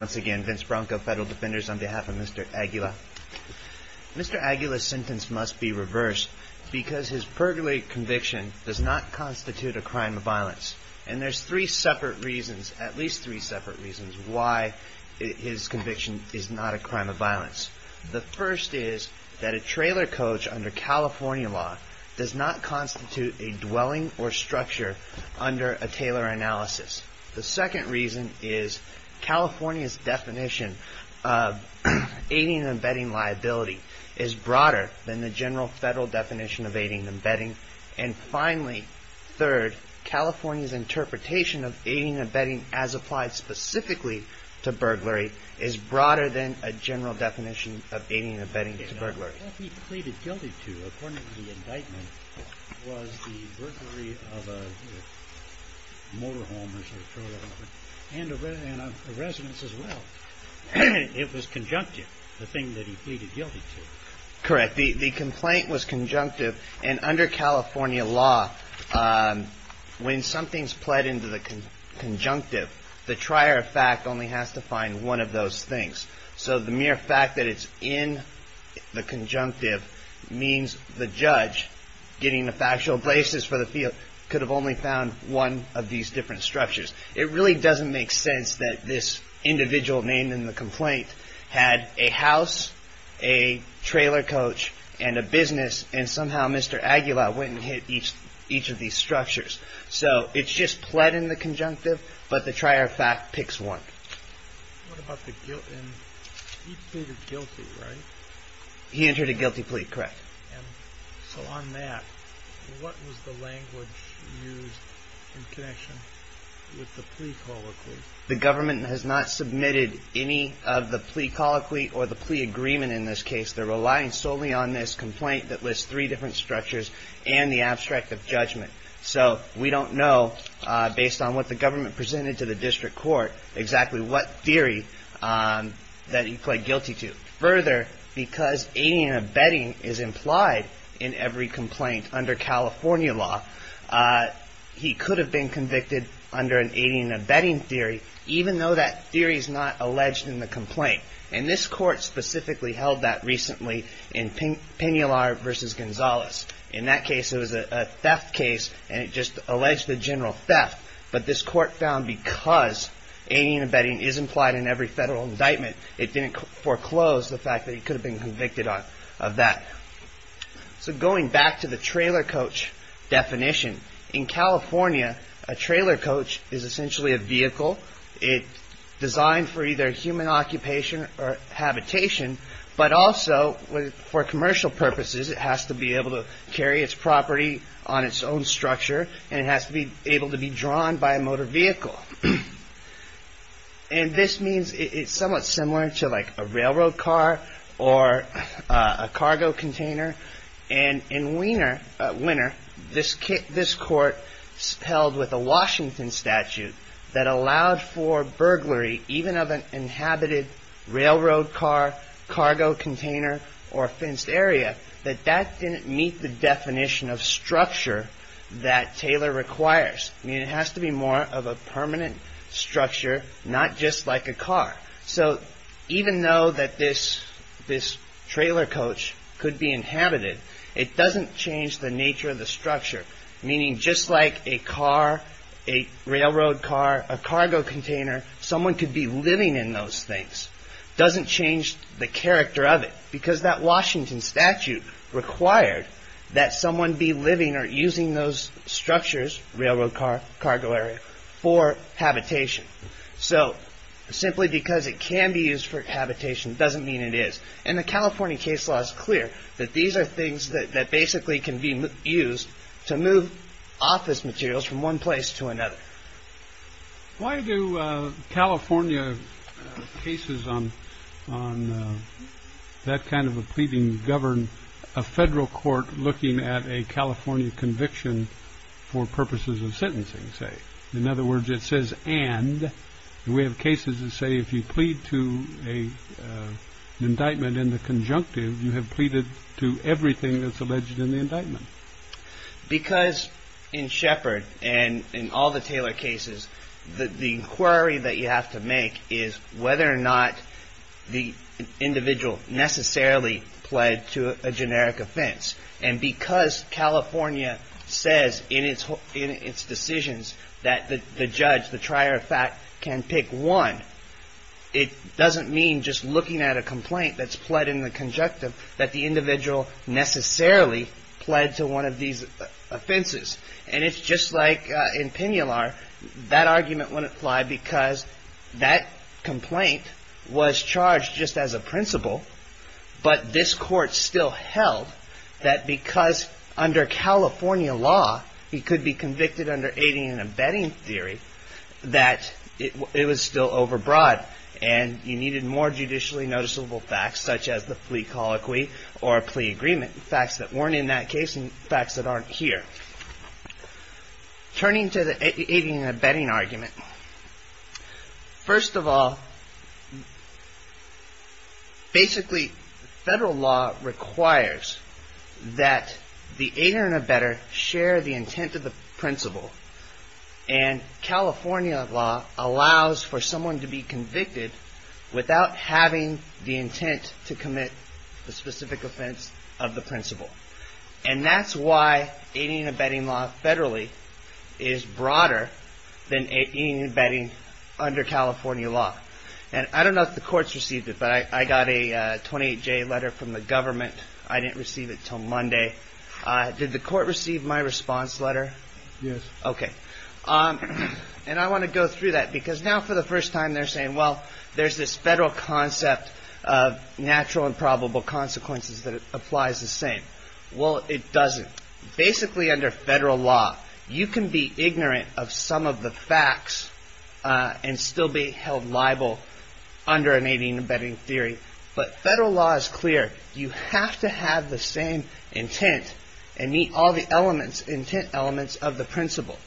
Once again, Vince Bronco, Federal Defenders, on behalf of Mr. Aguila. Mr. Aguila's sentence must be reversed because his perjury conviction does not constitute a crime of violence. And there's three separate reasons, at least three separate reasons, why his conviction is not a crime of violence. The first is that a trailer coach under California law does not constitute a dwelling or structure under a Taylor analysis. The second reason is California's definition of aiding and abetting liability is broader than the general federal definition of aiding and abetting. And finally, third, California's interpretation of aiding and abetting as applied specifically to burglary is broader than a general definition of aiding and abetting to burglary. What he pleaded guilty to, according to the indictment, was the burglary of a motorhome and a residence as well. It was conjunctive, the thing that he pleaded guilty to. Correct. The complaint was conjunctive. And under California law, when something's pled into the conjunctive, the trier of fact only has to find one of those things. So the mere fact that it's in the conjunctive means the judge getting the factual basis for the field could have only found one of these different structures. It really doesn't make sense that this individual named in the complaint had a house, a trailer coach and a business. And somehow Mr. Aguilar went and hit each each of these structures. So it's just pled in the conjunctive. But the trier of fact picks one. He entered a guilty plea. Correct. So on that, what was the language used in connection with the plea colloquy? The government has not submitted any of the plea colloquy or the plea agreement in this case. They're relying solely on this complaint that lists three different structures and the abstract of judgment. So we don't know, based on what the government presented to the district court, exactly what theory that he pled guilty to. Further, because aiding and abetting is implied in every complaint under California law, he could have been convicted under an aiding and abetting theory, even though that theory is not alleged in the complaint. And this court specifically held that recently in Pinular versus Gonzalez. In that case, it was a theft case and it just alleged the general theft. But this court found because aiding and abetting is implied in every federal indictment, it didn't foreclose the fact that he could have been convicted of that. So going back to the trailer coach definition in California, a trailer coach is essentially a vehicle. It's designed for either human occupation or habitation, but also for commercial purposes, it has to be able to carry its property on its own structure and it has to be able to be drawn by a motor vehicle. And this means it's somewhat similar to like a railroad car or a cargo container. And in Wiener, this court spelled with a Washington statute that allowed for burglary, even of an inhabited railroad car, cargo container or a fenced area, that that didn't meet the definition of structure that Taylor requires. I mean, it has to be more of a permanent structure, not just like a car. So even though that this trailer coach could be inhabited, it doesn't change the nature of the structure, meaning just like a car, a railroad car, a cargo container, someone could be living in those things. Doesn't change the character of it because that Washington statute required that someone be living or using those structures, railroad car, cargo area, for habitation. So simply because it can be used for habitation doesn't mean it is. And the California case law is clear that these are things that basically can be used to move office materials from one place to another. Why do California cases on on that kind of a pleading govern a federal court looking at a California conviction for purposes of sentencing, say. In other words, it says and we have cases that say if you plead to a indictment in the conjunctive, you have pleaded to everything that's alleged in the indictment. Because in Shepard and in all the Taylor cases, the inquiry that you have to make is whether or not the individual necessarily pled to a generic offense. And because California says in its in its decisions that the judge, the trier of fact, can pick one, it doesn't mean just looking at a complaint that's pled in the conjunctive that the individual necessarily pled to one of these offenses. And it's just like in Pinalar, that argument wouldn't fly because that complaint was charged just as a principle. But this court still held that because under California law, he could be convicted under aiding and abetting theory that it was still overbroad. And you needed more judicially noticeable facts such as the plea colloquy or a plea agreement, facts that weren't in that case and facts that aren't here. Turning to the aiding and abetting argument. First of all, basically, federal law requires that the aider and abetter share the intent of the principle. And California law allows for someone to be convicted without having the intent to commit the specific offense of the principle. And that's why aiding and abetting law federally is broader than aiding and abetting under California law. And I don't know if the courts received it, but I got a 28-J letter from the government. I didn't receive it till Monday. Did the court receive my response letter? Yes. Okay. And I want to go through that because now for the first time they're saying, well, there's this federal concept of natural and probable consequences that applies the same. Well, it doesn't. Basically, under federal law, you can be ignorant of some of the facts and still be held liable under aiding and abetting theory. But federal law is clear. You have to have the same intent and meet all the elements, intent elements of the principle.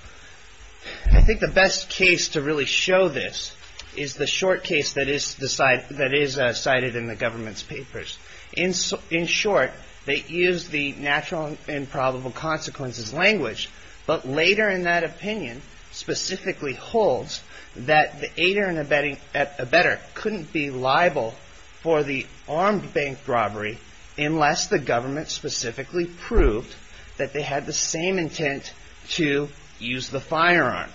I think the best case to really show this is the short case that is cited in the government's papers. In short, they use the natural and probable consequences language. But later in that opinion, specifically holds that the aider and abetter couldn't be liable for the armed bank robbery unless the government specifically proved that they had the same intent to use the firearm.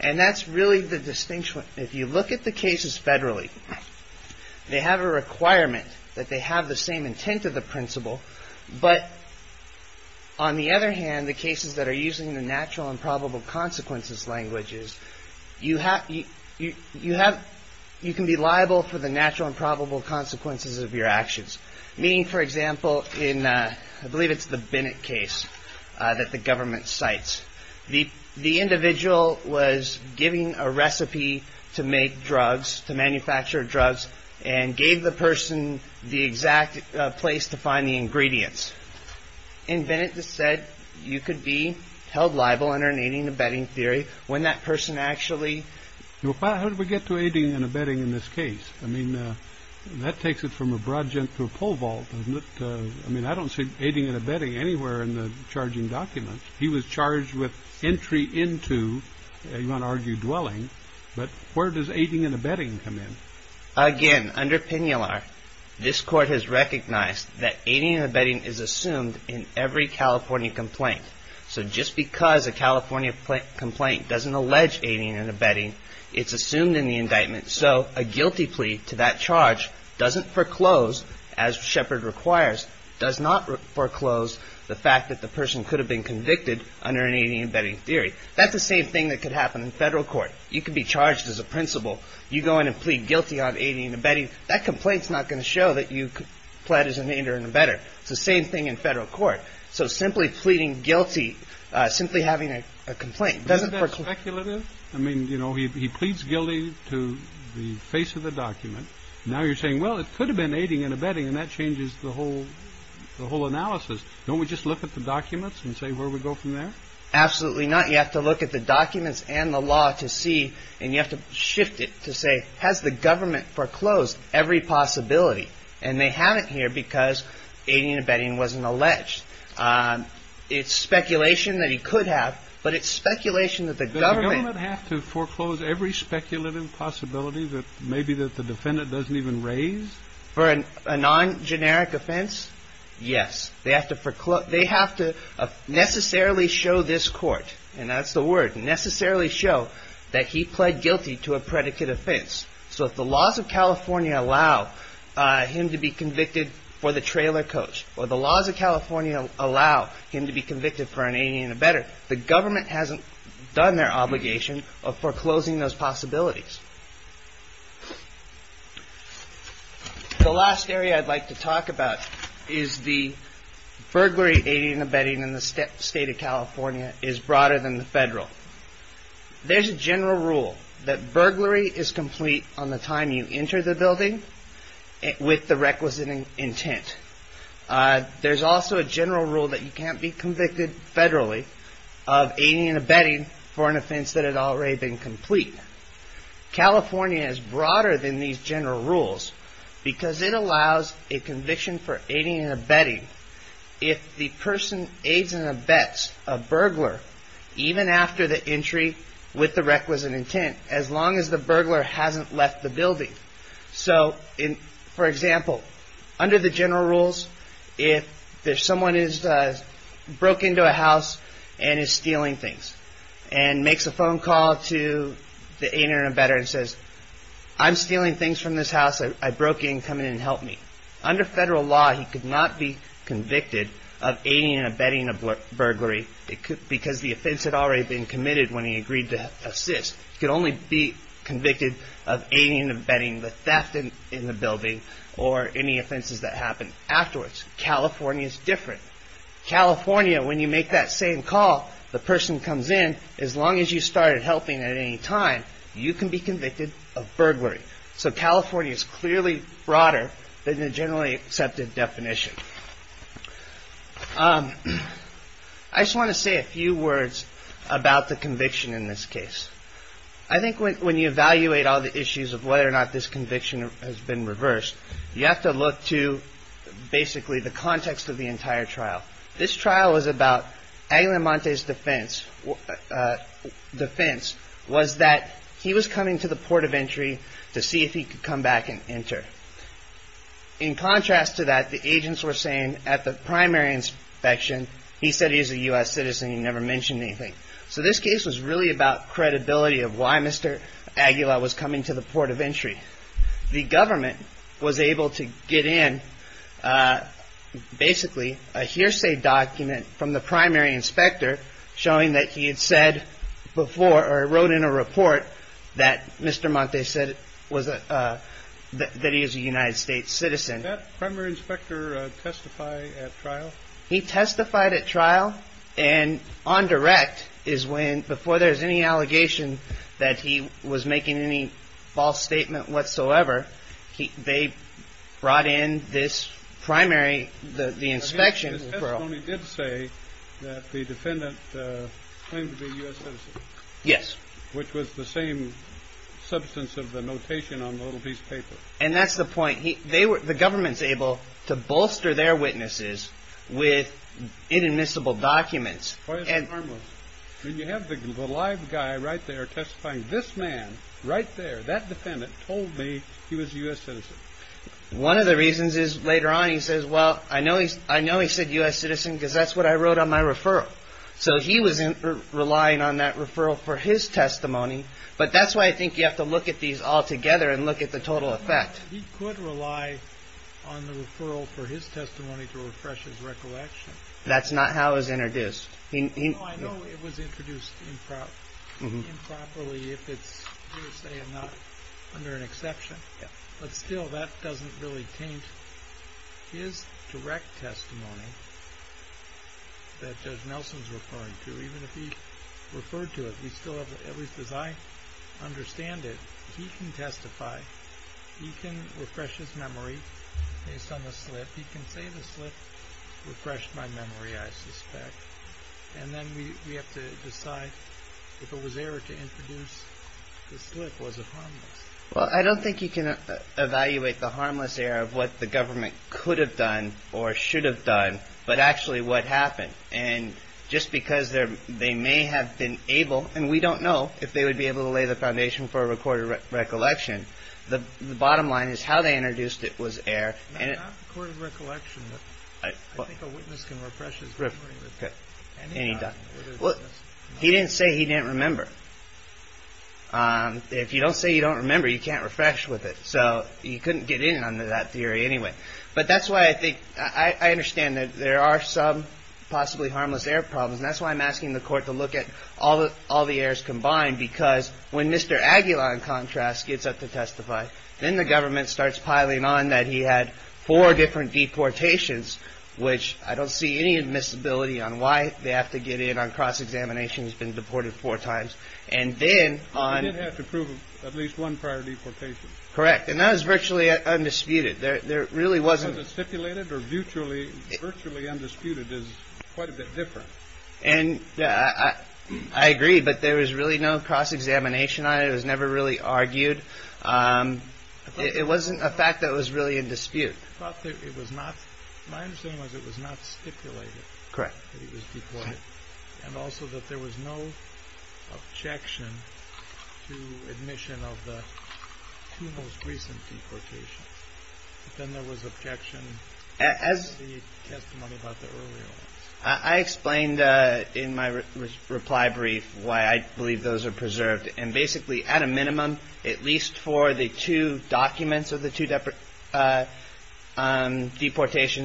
And that's really the distinction. If you look at the cases federally, they have a requirement that they have the same intent of the principle. But on the other hand, the cases that are using the natural and probable consequences languages, you can be liable for the natural and probable consequences of your actions. Meaning, for example, in I believe it's the Bennett case that the government sites. The the individual was giving a recipe to make drugs, to manufacture drugs and gave the person the exact place to find the ingredients. And Bennett said you could be held liable under an aiding and abetting theory when that person actually. How did we get to aiding and abetting in this case? I mean, that takes it from a broad jump to a pole vault, doesn't it? I mean, I don't see aiding and abetting anywhere in the charging documents. He was charged with entry into you want to argue dwelling. But where does aiding and abetting come in? Again, under penular, this court has recognized that aiding and abetting is assumed in every California complaint. So just because a California complaint doesn't allege aiding and abetting, it's assumed in the indictment. So a guilty plea to that charge doesn't foreclose, as Shepard requires, does not foreclose the fact that the person could have been convicted under an aiding and abetting theory. That's the same thing that could happen in federal court. You could be charged as a principal. You go in and plead guilty on aiding and abetting. That complaint's not going to show that you pled as an aider and abetter. It's the same thing in federal court. So simply pleading guilty, simply having a complaint doesn't work. I mean, you know, he pleads guilty to the face of the document. Now you're saying, well, it could have been aiding and abetting, and that changes the whole the whole analysis. Don't we just look at the documents and say where we go from there? Absolutely not. You have to look at the documents and the law to see and you have to shift it to say, has the government foreclosed every possibility? And they haven't here because aiding and abetting wasn't alleged. It's speculation that he could have, but it's speculation that the government... Does the government have to foreclose every speculative possibility that maybe that the defendant doesn't even raise? For a non-generic offense? Yes. They have to necessarily show this court, and that's the word, necessarily show that he pled guilty to a predicate offense. So if the laws of California allow him to be convicted for the trailer coach, or the laws of California allow him to be convicted for an aiding and abetting, the government hasn't done their obligation of foreclosing those possibilities. The last area I'd like to talk about is the burglary, aiding and abetting in the state of California is broader than the federal. There's a general rule that burglary is complete on the time you enter the building with the requisite intent. There's also a general rule that you can't be convicted federally of aiding and abetting for an offense that had already been complete. California is broader than these general rules because it allows a conviction for aiding and abetting if the person aids and abets a burglar, even after the entry with the requisite intent, as long as the burglar hasn't left the building. So, for example, under the general rules, if someone broke into a house and is stealing things, and makes a phone call to the aider and abetter and says, I'm stealing things from this house, I broke in, come in and help me. Under federal law, he could not be convicted of aiding and abetting a burglary because the offense had already been committed when he agreed to assist. He could only be convicted of aiding and abetting the theft in the building or any offenses that happen afterwards. California is different. California, when you make that same call, the person comes in, as long as you started helping at any time, you can be convicted of burglary. So, California is clearly broader than the generally accepted definition. I just want to say a few words about the conviction in this case. I think when you evaluate all the issues of whether or not this conviction has been reversed, you have to look to, basically, the context of the entire trial. This trial was about Aguilamante's defense. His defense was that he was coming to the port of entry to see if he could come back and enter. In contrast to that, the agents were saying at the primary inspection, he said he was a U.S. citizen, he never mentioned anything. So, this case was really about credibility of why Mr. Aguila was coming to the port of entry. The government was able to get in, basically, a hearsay document from the primary inspector showing that he had said before, or wrote in a report, that Mr. Aguilamante said that he was a United States citizen. Did that primary inspector testify at trial? He testified at trial, and on direct, is when, before there's any allegation that he was making any false statement whatsoever, they brought in this primary, the inspection referral. The attorney did say that the defendant claimed to be a U.S. citizen. Yes. Which was the same substance of the notation on the little piece of paper. And that's the point. The government's able to bolster their witnesses with inadmissible documents. Why is it harmless? You have the live guy right there testifying. This man, right there, that defendant, told me he was a U.S. citizen. One of the reasons is, later on, he says, well, I know he said U.S. citizen because that's what I wrote on my referral. So he was relying on that referral for his testimony. But that's why I think you have to look at these all together and look at the total effect. He could rely on the referral for his testimony to refresh his recollection. That's not how it was introduced. No, I know it was introduced improperly, if it's hearsay and not under an exception. But still, that doesn't really taint his direct testimony that Judge Nelson's referring to. Even if he referred to it, at least as I understand it, he can testify. He can refresh his memory based on the slip. He can say the slip refreshed my memory, I suspect. And then we have to decide if it was error to introduce the slip was it harmless. Well, I don't think you can evaluate the harmless error of what the government could have done or should have done, but actually what happened. And just because they may have been able, and we don't know, if they would be able to lay the foundation for a recorded recollection, the bottom line is how they introduced it was error. Not recorded recollection, but I think a witness can refresh his memory. Any time. He didn't say he didn't remember. If you don't say you don't remember, you can't refresh with it. So you couldn't get in under that theory anyway. But that's why I think, I understand that there are some possibly harmless error problems. And that's why I'm asking the court to look at all the errors combined, because when Mr. Aguila, in contrast, gets up to testify, then the government starts piling on that he had four different deportations, which I don't see any admissibility on why they have to get in on cross-examination, he's been deported four times. But he did have to prove at least one prior deportation. Correct, and that was virtually undisputed. Was it stipulated or virtually undisputed is quite a bit different. I agree, but there was really no cross-examination on it. It was never really argued. It wasn't a fact that was really in dispute. My understanding was it was not stipulated that he was deported. And also that there was no objection to admission of the two most recent deportations. Then there was objection to the testimony about the earlier ones. I explained in my reply brief why I believe those are preserved. And basically, at a minimum, at least for the two documents of the two deportations,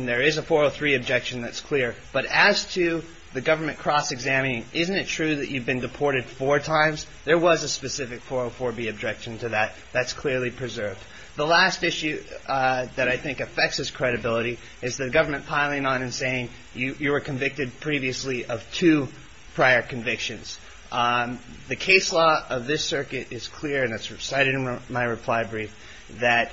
there is a 403 objection that's clear. But as to the government cross-examining, isn't it true that you've been deported four times? There was a specific 404b objection to that. That's clearly preserved. The last issue that I think affects his credibility is the government piling on and saying you were convicted previously of two prior convictions. The case law of this circuit is clear and it's recited in my reply brief that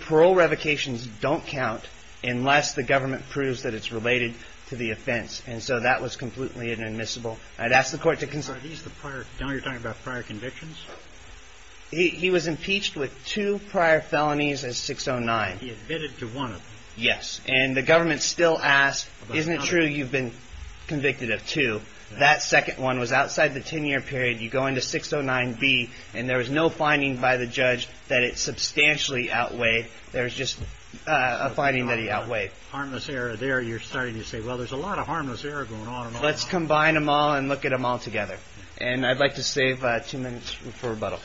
parole revocations don't count unless the government proves that it's related to the offense. And so that was completely inadmissible. Now you're talking about prior convictions? He was impeached with two prior felonies as 609. He admitted to one of them. Yes. And the government still asked, isn't it true you've been convicted of two? That second one was outside the 10-year period. You go into 609b and there was no finding by the judge that it substantially outweighed. There was just a finding that he outweighed. So there's a lot of harmless error there. You're starting to say, well, there's a lot of harmless error going on. Let's combine them all and look at them all together. And I'd like to save two minutes for rebuttal.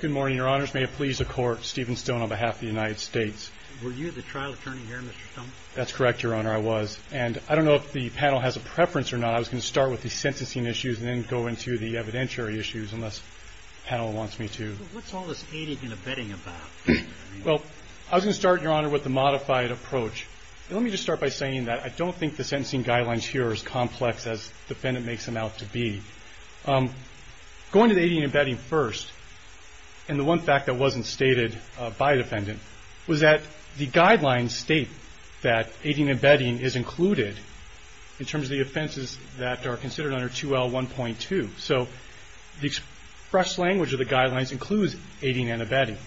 Good morning, Your Honors. May it please the Court, Steven Stone on behalf of the United States. Were you the trial attorney here, Mr. Stone? That's correct, Your Honor, I was. And I don't know if the panel has a preference or not. I was going to start with the sentencing issues and then go into the evidentiary issues unless the panel wants me to. What's all this aiding and abetting about? Well, I was going to start, Your Honor, with the modified approach. Let me just start by saying that I don't think the sentencing guidelines here are as complex as the defendant makes them out to be. Going to the aiding and abetting first, and the one fact that wasn't stated by a defendant, was that the guidelines state that aiding and abetting is included in terms of the offenses that are considered under 2L1.2. So the express language of the guidelines includes aiding and abetting.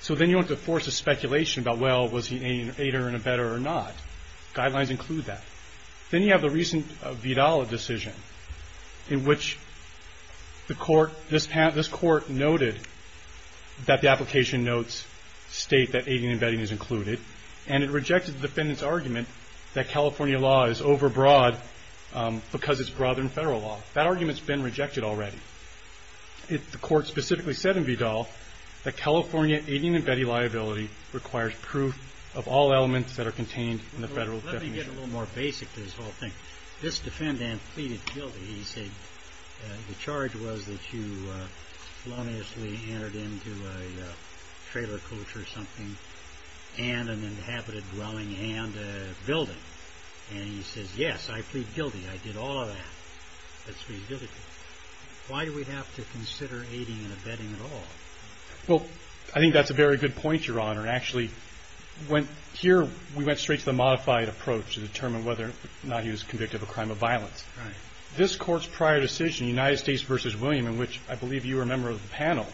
So then you don't have to force a speculation about, well, was he aiding or abetting or not? Guidelines include that. Then you have the recent Vidal decision in which this Court noted that the application notes state that aiding and abetting is included. And it rejected the defendant's argument that California law is overbroad because it's broader than federal law. That argument's been rejected already. The Court specifically said in Vidal that California aiding and abetting liability requires proof of all elements that are contained in the federal definition. To get a little more basic to this whole thing, this defendant pleaded guilty. He said the charge was that you erroneously entered into a trailer coach or something and an inhabited dwelling and a building. And he says, yes, I plead guilty. I did all of that. Why do we have to consider aiding and abetting at all? Well, I think that's a very good point, Your Honor. Actually, here we went straight to the modified approach to determine whether or not he was convicted of a crime of violence. This Court's prior decision, United States v. William, in which I believe you were a member of the panel,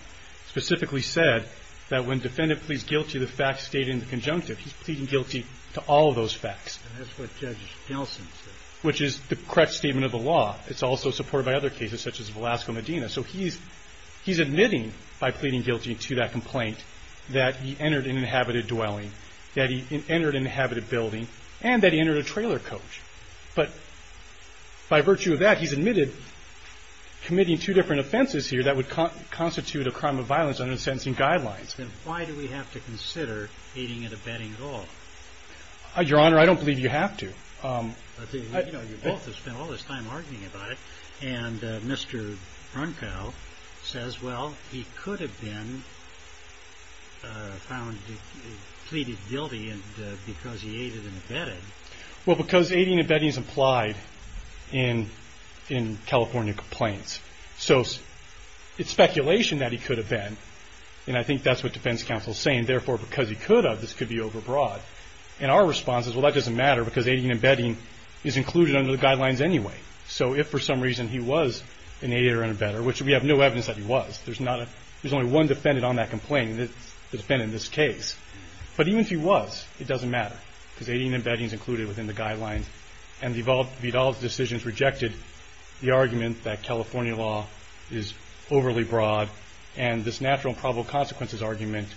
specifically said that when defendant pleads guilty, the facts state in the conjunctive. He's pleading guilty to all of those facts. And that's what Judge Nelson said. Which is the correct statement of the law. It's also supported by other cases such as Velasco Medina. So he's admitting by pleading guilty to that complaint that he entered an inhabited dwelling, that he entered an inhabited building, and that he entered a trailer coach. But by virtue of that, he's admitted committing two different offenses here that would constitute a crime of violence under the sentencing guidelines. Then why do we have to consider aiding and abetting at all? Your Honor, I don't believe you have to. You know, you both have spent all this time arguing about it. And Mr. Brunkow says, well, he could have been found pleaded guilty because he aided and abetted. Well, because aiding and abetting is implied in California complaints. So it's speculation that he could have been. And I think that's what defense counsel is saying. Therefore, because he could have, this could be overbroad. And our response is, well, that doesn't matter, because aiding and abetting is included under the guidelines anyway. So if for some reason he was an aider and abetter, which we have no evidence that he was, there's only one defendant on that complaint that's been in this case. But even if he was, it doesn't matter, because aiding and abetting is included within the guidelines. And Vidal's decision has rejected the argument that California law is overly broad and this natural and probable consequences argument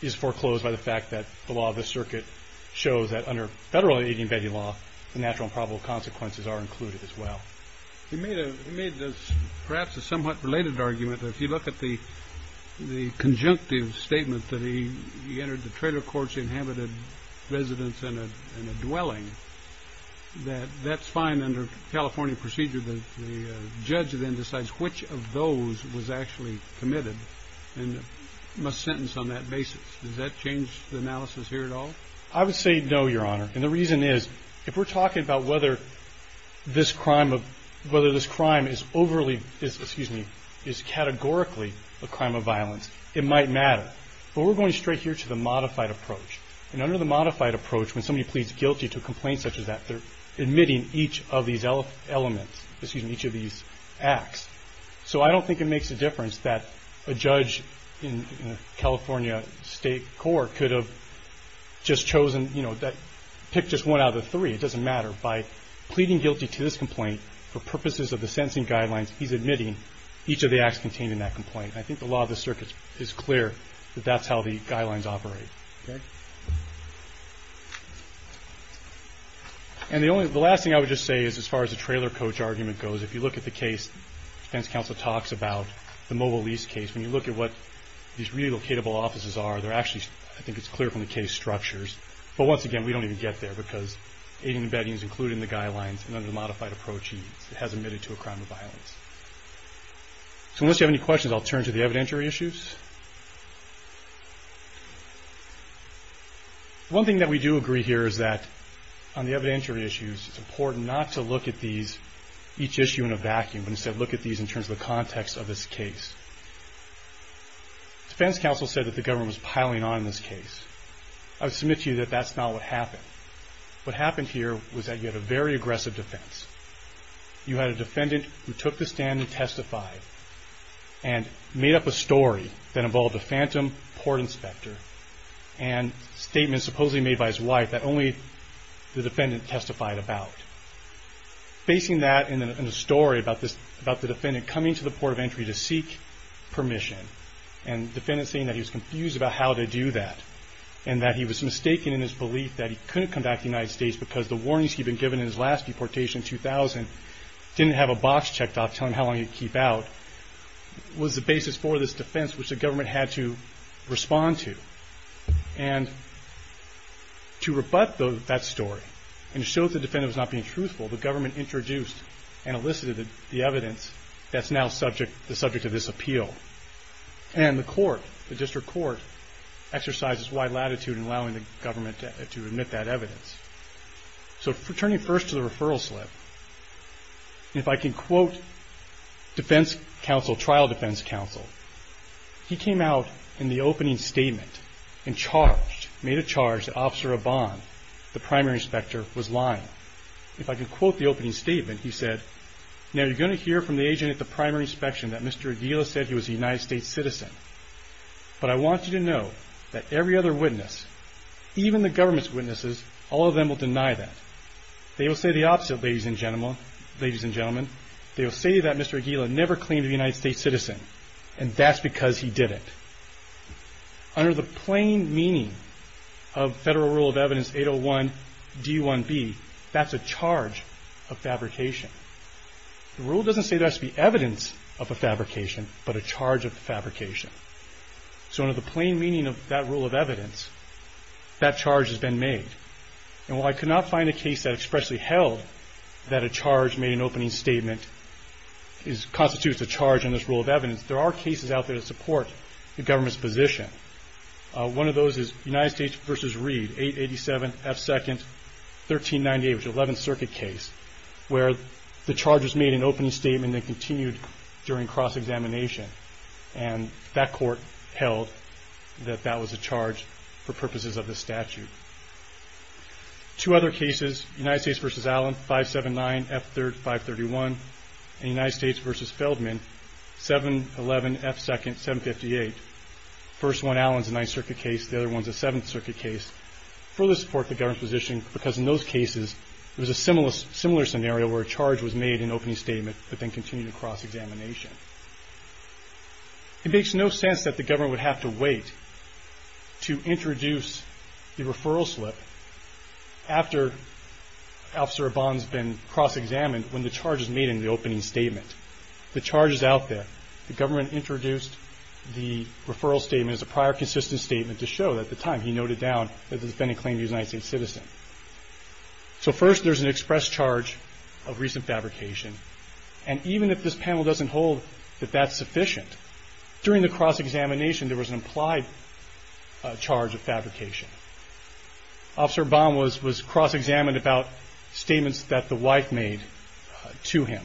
is foreclosed by the fact that the law of the circuit shows that under federal aiding and abetting law, the natural and probable consequences are included as well. He made perhaps a somewhat related argument that if you look at the conjunctive statement that he entered the trailer courts, inhabited residents in a dwelling, that that's fine under California procedure. The judge then decides which of those was actually committed and must sentence on that basis. Does that change the analysis here at all? I would say no, Your Honor. And the reason is, if we're talking about whether this crime is overly, excuse me, is categorically a crime of violence, it might matter. But we're going straight here to the modified approach. And under the modified approach, when somebody pleads guilty to a complaint such as that, they're admitting each of these elements, excuse me, each of these acts. So I don't think it makes a difference that a judge in a California state court could have just chosen, you know, picked just one out of the three. It doesn't matter. By pleading guilty to this complaint for purposes of the sentencing guidelines, he's admitting each of the acts contained in that complaint. I think the law of the circuit is clear that that's how the guidelines operate. Okay? And the only, the last thing I would just say is as far as the trailer coach argument goes, if you look at the case defense counsel talks about the mobile lease case, when you look at what these relocatable offices are, they're actually, I think it's clear from the case structures. But once again, we don't even get there because aid and embedding is included in the guidelines and under the modified approach, he has admitted to a crime of violence. So unless you have any questions, I'll turn to the evidentiary issues. One thing that we do agree here is that on the evidentiary issues, it's important not to look at these, each issue in a vacuum, but instead look at these in terms of the context of this case. Defense counsel said that the government was piling on in this case. I would submit to you that that's not what happened. What happened here was that you had a very aggressive defense. You had a defendant who took the stand and testified and made up a story that involved a phantom port inspector and statements supposedly made by his wife that only the defendant testified about. Facing that in a story about the defendant coming to the port of entry to seek permission and the defendant saying that he was confused about how to do that and that he was mistaken in his belief that he couldn't come back to the United States because the warnings he'd been given in his last deportation in 2000 didn't have a box checked off telling him how long he could keep out was the basis for this defense which the government had to respond to. And to rebut that story and show that the defendant was being truthful, the government introduced and elicited the evidence that's now the subject of this appeal. And the court, the district court exercises wide latitude in allowing the government to admit that evidence. So turning first to the referral slip, if I can quote defense counsel, trial defense counsel, he came out in the opening statement and charged, made a charge that Officer Obon, the primary inspector, if I can quote the opening statement, he said, now you're going to hear from the agent at the primary inspection that Mr. Aguila said he was a United States citizen. But I want you to know that every other witness, even the government's witnesses, all of them will deny that. They will say the opposite, ladies and gentlemen, they will say that Mr. Aguila never claimed to be a United States citizen and that's because he didn't. Under the plain meaning of federal rule of evidence 801 D1B, that's a charge of fabrication. The rule doesn't say there has to be evidence of a fabrication, but a charge of fabrication. So under the plain meaning of that rule of evidence, that charge has been made. And while I could not find a case that expressly held that a charge made in an opening statement constitutes a charge in this rule of evidence, there are cases out there that support the government's position. One of those is United States v. Reed, 887 F2nd 1398, which is an 11th Circuit case where the charge was made in an opening statement that continued during cross-examination and that court held that that was a charge for purposes of this statute. Two other cases, United States v. Allen, 579 F3rd 531, and United States v. Feldman, 758. First one, Allen's a 9th Circuit case, the other one's a 7th Circuit case, further support the government's position because in those cases it was a similar scenario where a charge was made in an opening statement but then continued in cross-examination. It makes no sense that the government would have to wait to introduce the referral slip after Officer Abban's been cross-examined when the charge was made in the opening statement. The charge is out there. The government introduced the referral statement as a prior consistent statement to show at the time he noted down that the defendant claimed to be a United States citizen. So first there's an express charge of recent fabrication and even if this panel doesn't hold that that's sufficient, during the cross-examination there's a prior consistent statement to him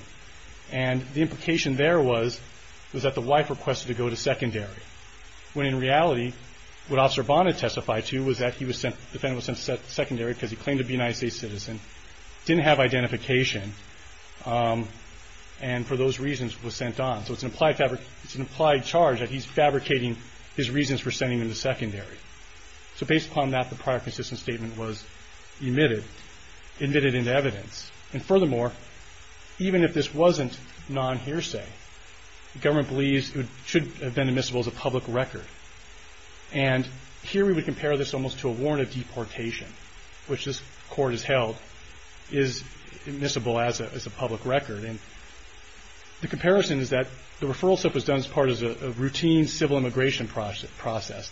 and the implication there was that the wife requested to go to secondary when in reality what Officer Abban had testified to was that the defendant was sent to secondary because he claimed to be a United States citizen, didn't have identification and for those reasons was sent on. So it's an implied charge even if this wasn't non-hearsay, the government believes it should have been admissible as a public record and here we would compare this almost to a warrant of deportation which this court has held is admissible as a public record and the comparison is that the referral slip was done as part of a routine civil immigration process.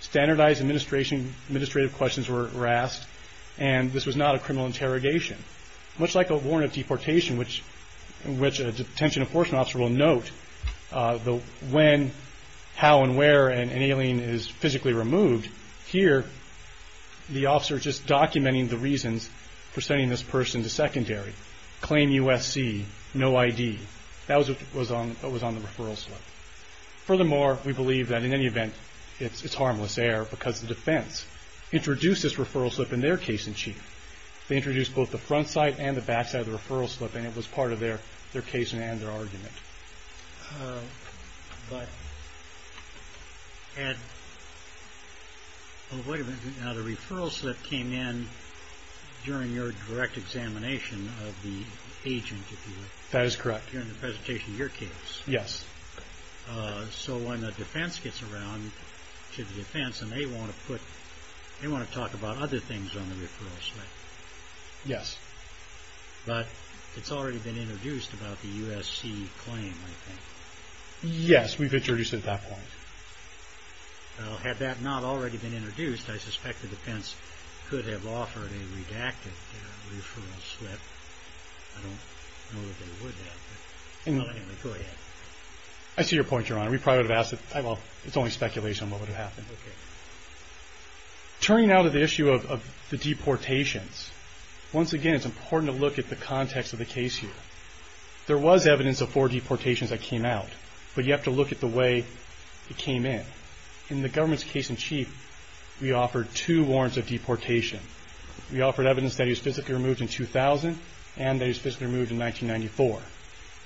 Standardized administrative questions were asked and this was not a criminal interrogation, much like a warrant of deportation which a detention enforcement officer will note when, how and where an alien is physically removed, here the officer is just documenting the reasons for sending this person to secondary, claim USC, no ID, that was on the referral slip. Furthermore, we believe that in any event, it's harmless error because the defense introduced this referral slip in their case in chief. They introduced both the front side and the back side of the referral slip and it was part of their case and their argument. Wait a minute, now the referral slip came in during your direct examination of the agent if you will. That is correct. During the presentation of your case. Yes. So when the defense gets around to the defense and they want to put, they want to talk about other things on the referral slip. Yes. But it's already been explained I think. Yes, we've introduced it at that point. Well, had that not already been introduced, I suspect the defense could have offered a redacted referral slip. I don't know that they would have. Anyway, go ahead. I see your point, Your Honor. We probably would have asked, well, it's only speculation what would have happened. Turning now to the issue of the deportations. Once again, it's important to look at the context of the case here. There was evidence of four deportations that came out, but you have to look at the way it came in. In the government's case in chief, we offered two warrants of deportation. We offered evidence that he was physically removed in 2000 and that he was physically removed in 1994.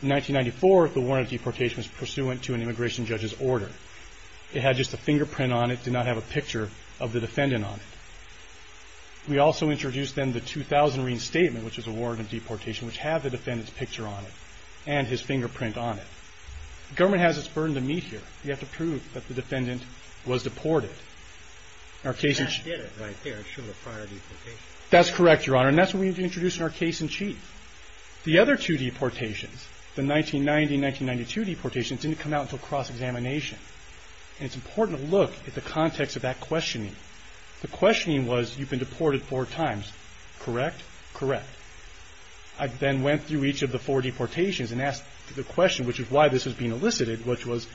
In 1994, the warrant of deportation was pursuant to an immigration judge's order. It had just a fingerprint on it. It did not have a picture of the defendant on it. We also introduced then the 2000 reinstatement, which was a warrant of deportation, which had the defendant's picture on it and his fingerprint on it. The government has its burden to meet here. We have to prove that the defendant was deported. That did it right there. It showed a prior deportation. That's correct, Your Honor, and that's what we introduced in our case in chief. The other two deportations, the 1990 and 1992 deportations, didn't come out until cross-examination. It's important to look at the context of that questioning. The questioning was, you've been deported four times. Correct? Correct. I then went through each of the four deportations and asked the question, which is why this was being elicited, which was,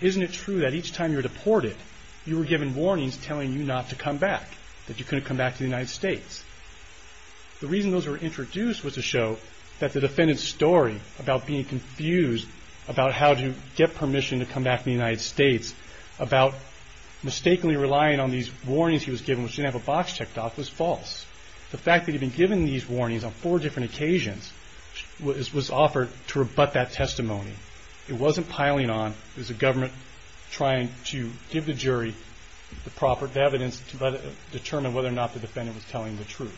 isn't it true that each time you were deported, you were given warnings telling you not to come back, that you couldn't come back to the United States? The reason those were introduced was to show that the defendant's story about being confused about how to get permission to come back to the United States, about mistakenly relying on these warnings he was given, which didn't have a box checked off, was false. The fact that he had been given these warnings on four different occasions was offered to rebut that testimony. It wasn't piling on. It was the government trying to give the evidence to determine whether or not the defendant was telling the truth.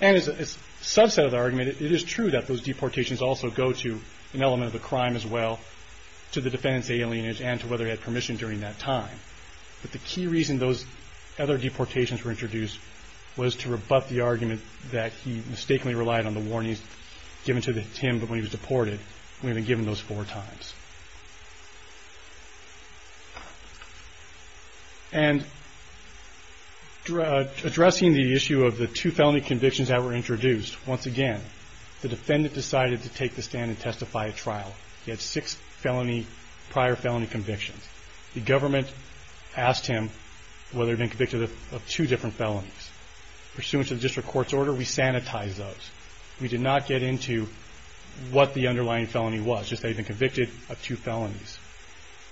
And as a subset of the argument, it is true that those deportations also go to the United States. They go to an element of the crime as well, to the defendant's alienage, and to whether he had permission during that time. But the key reason those other deportations were introduced was to rebut the argument that he mistakenly relied on the warnings given to him when he was deported. issue of the two felony convictions that were introduced, once again, the defendant decided to take the stand and tell the truth. And I think that that's a good example of the government trying to testify at trial. He had six felony, prior felony convictions. The government asked him whether he had been convicted of two different felonies. Pursuant to the district court's order, we sanitized those. We did not get into what the underlying felony was, just that he had been convicted of two felonies.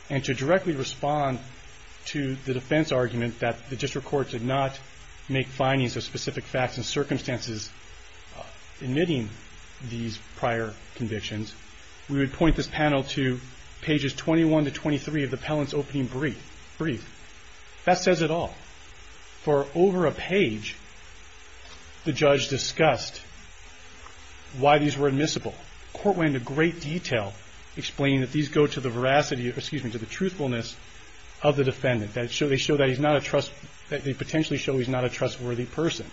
And to directly respond to the defense argument that the district court did not make findings of specific facts and circumstances admitting these prior convictions, we would point this panel to pages 21 to 23 of the appellant's opening brief. That says it all. For over a page, the judge discussed why these were admissible. The court went into great detail explaining that these go to the veracity, excuse me, to the truthfulness of the defendant. That they show that he's not a trustworthy person.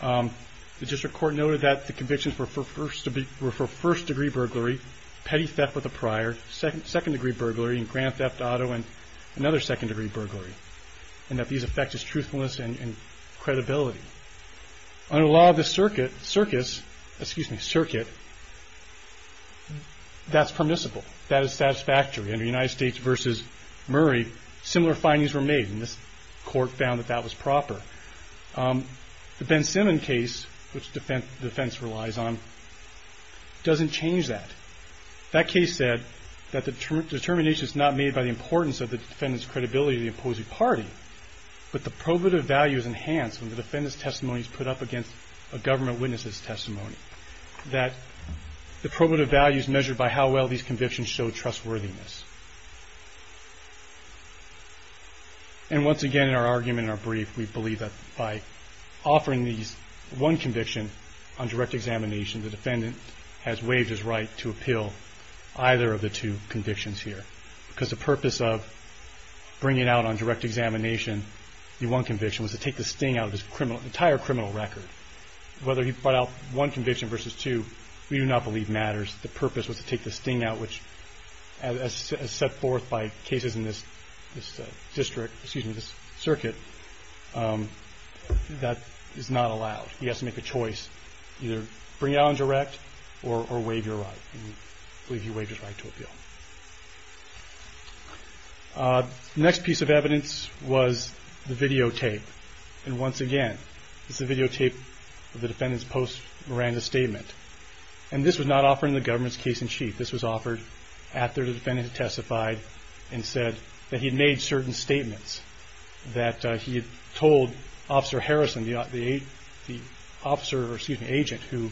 The district court noted that the convictions were for first degree veracity. Second degree burglary. Petty theft with a prior. Second degree burglary and grand theft auto and another second degree burglary. And that these affect his truthfulness and credibility. Under the law of the circuit, that's permissible. That is satisfactory. Under United States versus Murray, similar findings were made and this court found that that was proper. The Ben Simmons case, which defense relies on, doesn't change that. That case said that the determination is not made by the importance of the defendant's credibility to the opposing party, but the probative value is enhanced when the defendant's testimony is put up against a government witness's testimony. That the probative value is measured by how well these convictions show trustworthiness. And once again in our argument and our brief, we believe that by offering these one conviction on direct examination, the defendant has waived his right to appeal either of the two convictions here. Because the purpose of bringing out on direct examination the one conviction was to take the sting out of his criminal, entire criminal record. Whether he brought out one conviction versus two, we do not believe matters. The purpose was to take the sting out, which as set forth by cases in this district, excuse me, this circuit, that is not allowed. He has to make a choice. Either bring it out on direct or waive your right. We believe he waived his right to appeal. The next piece of evidence was the videotape. And once again, this is the videotape of the defendant's post Miranda statement. And this was not offered in the government's case in chief. This was offered after the defendant testified and said that he had made certain statements. That he had told Officer Harrison, the agent who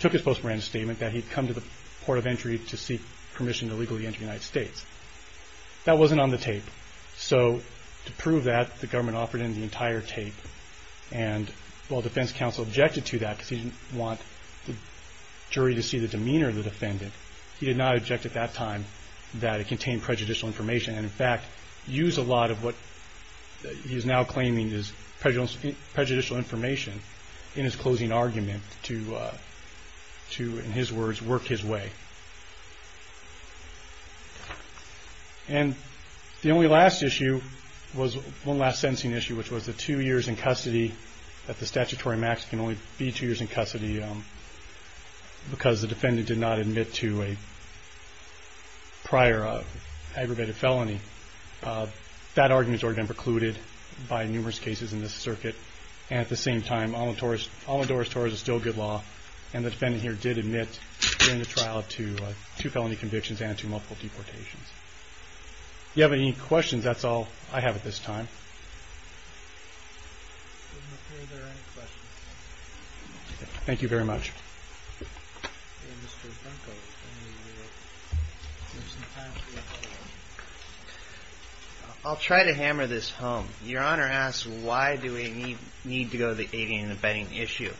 took his post Miranda statement that he had come to the Port of Entry to seek permission to legally enter the United States. That wasn't on the tape. So to prove that, the government offered him the entire tape. And while the defense counsel objected to that because he didn't want the jury to see the demeanor of the defendant, he did not object at that time that it contained prejudicial information. And in fact, used a lot of what he is now known as prejudicial information in his closing argument to, in his words, work his way. And the only last issue was one last sentencing issue which was the two years in custody, that the statutory max can only be two years in custody because the defendant did not admit to a prior aggravated felony. That argument has already been precluded by numerous cases in this circuit. And at the same time, Amador's Tories is still good law and the defendant here did admit during the trial to two felony convictions and to multiple deportations. If you have any questions, have at this time. Thank you very much. I'll try to hammer this home. Your Honor asked why do any of the defendants need to go to the aiding and abetting issue?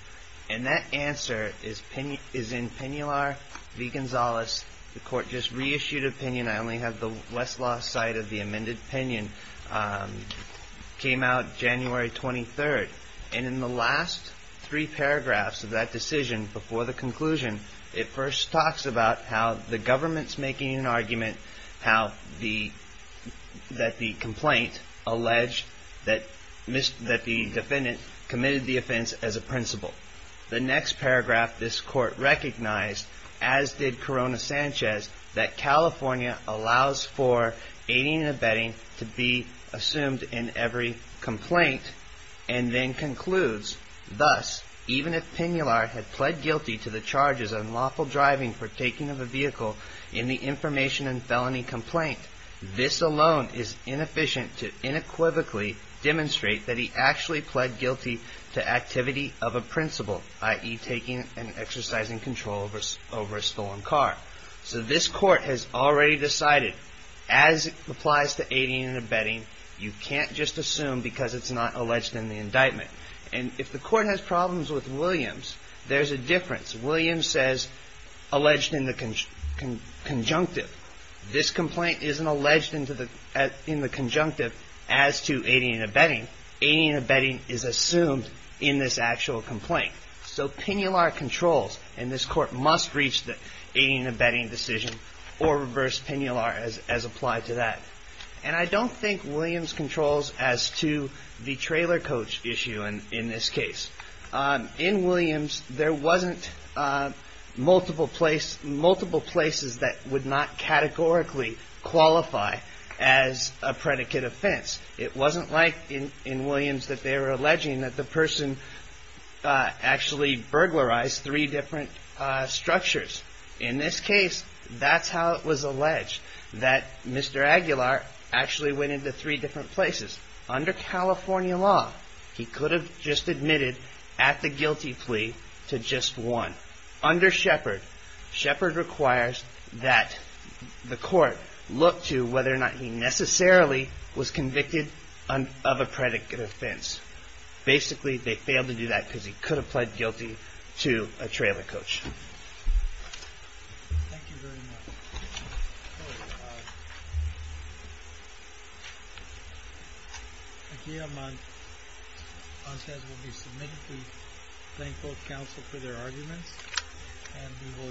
And that answer is in Pinular v. Gonzales. The Court just reissued an opinion. I only have the Westlaw side of the amended opinion. It came out January 23rd. And in the last three paragraphs of that decision before the conclusion, it first talks about how the government's making an argument, how the that the complaint alleged that the defendant committed the offense as a principle. The next paragraph, this Court recognized, as did Corona Sanchez, that California allows for aiding and abetting to be assumed in every complaint, and then concludes, thus, even if Pinular had pled guilty to the charges of unlawful driving for taking of a vehicle in the information and felony complaint, this alone is inefficient to inequivocally demonstrate that he actually pled guilty to activity of a principle, i.e., taking and exercising control over a stolen car. So this Court has problems with Williams. There's a difference. Williams says alleged in the conjunctive. isn't alleged in the conjunctive as to aiding and abetting. Aiding and abetting is assumed in this actual complaint. So Pinular controls, and this Court must reach the aiding and abetting decision, or reverse decision. I don't think Williams controls as to the trailer coach issue in this case. In Williams, there wasn't multiple places that would not categorically qualify as a predicate offense. It wasn't like in Williams that they were alleging that the person actually burglarized three different structures. In this case, that's how it was alleged that Mr. Aguilar actually went into three different places. Under California law, he just admitted at the guilty plea to just one. Under Shepard, Shepard requires that the Court look to whether or not he necessarily was convicted of a predicate offense. Basically, they failed to do that because he could have pled guilty to a trailer coach. Thank you very much. Aguilar Montez will be submitted to Plaincloth Council for their arguments and we will adjourn for the day.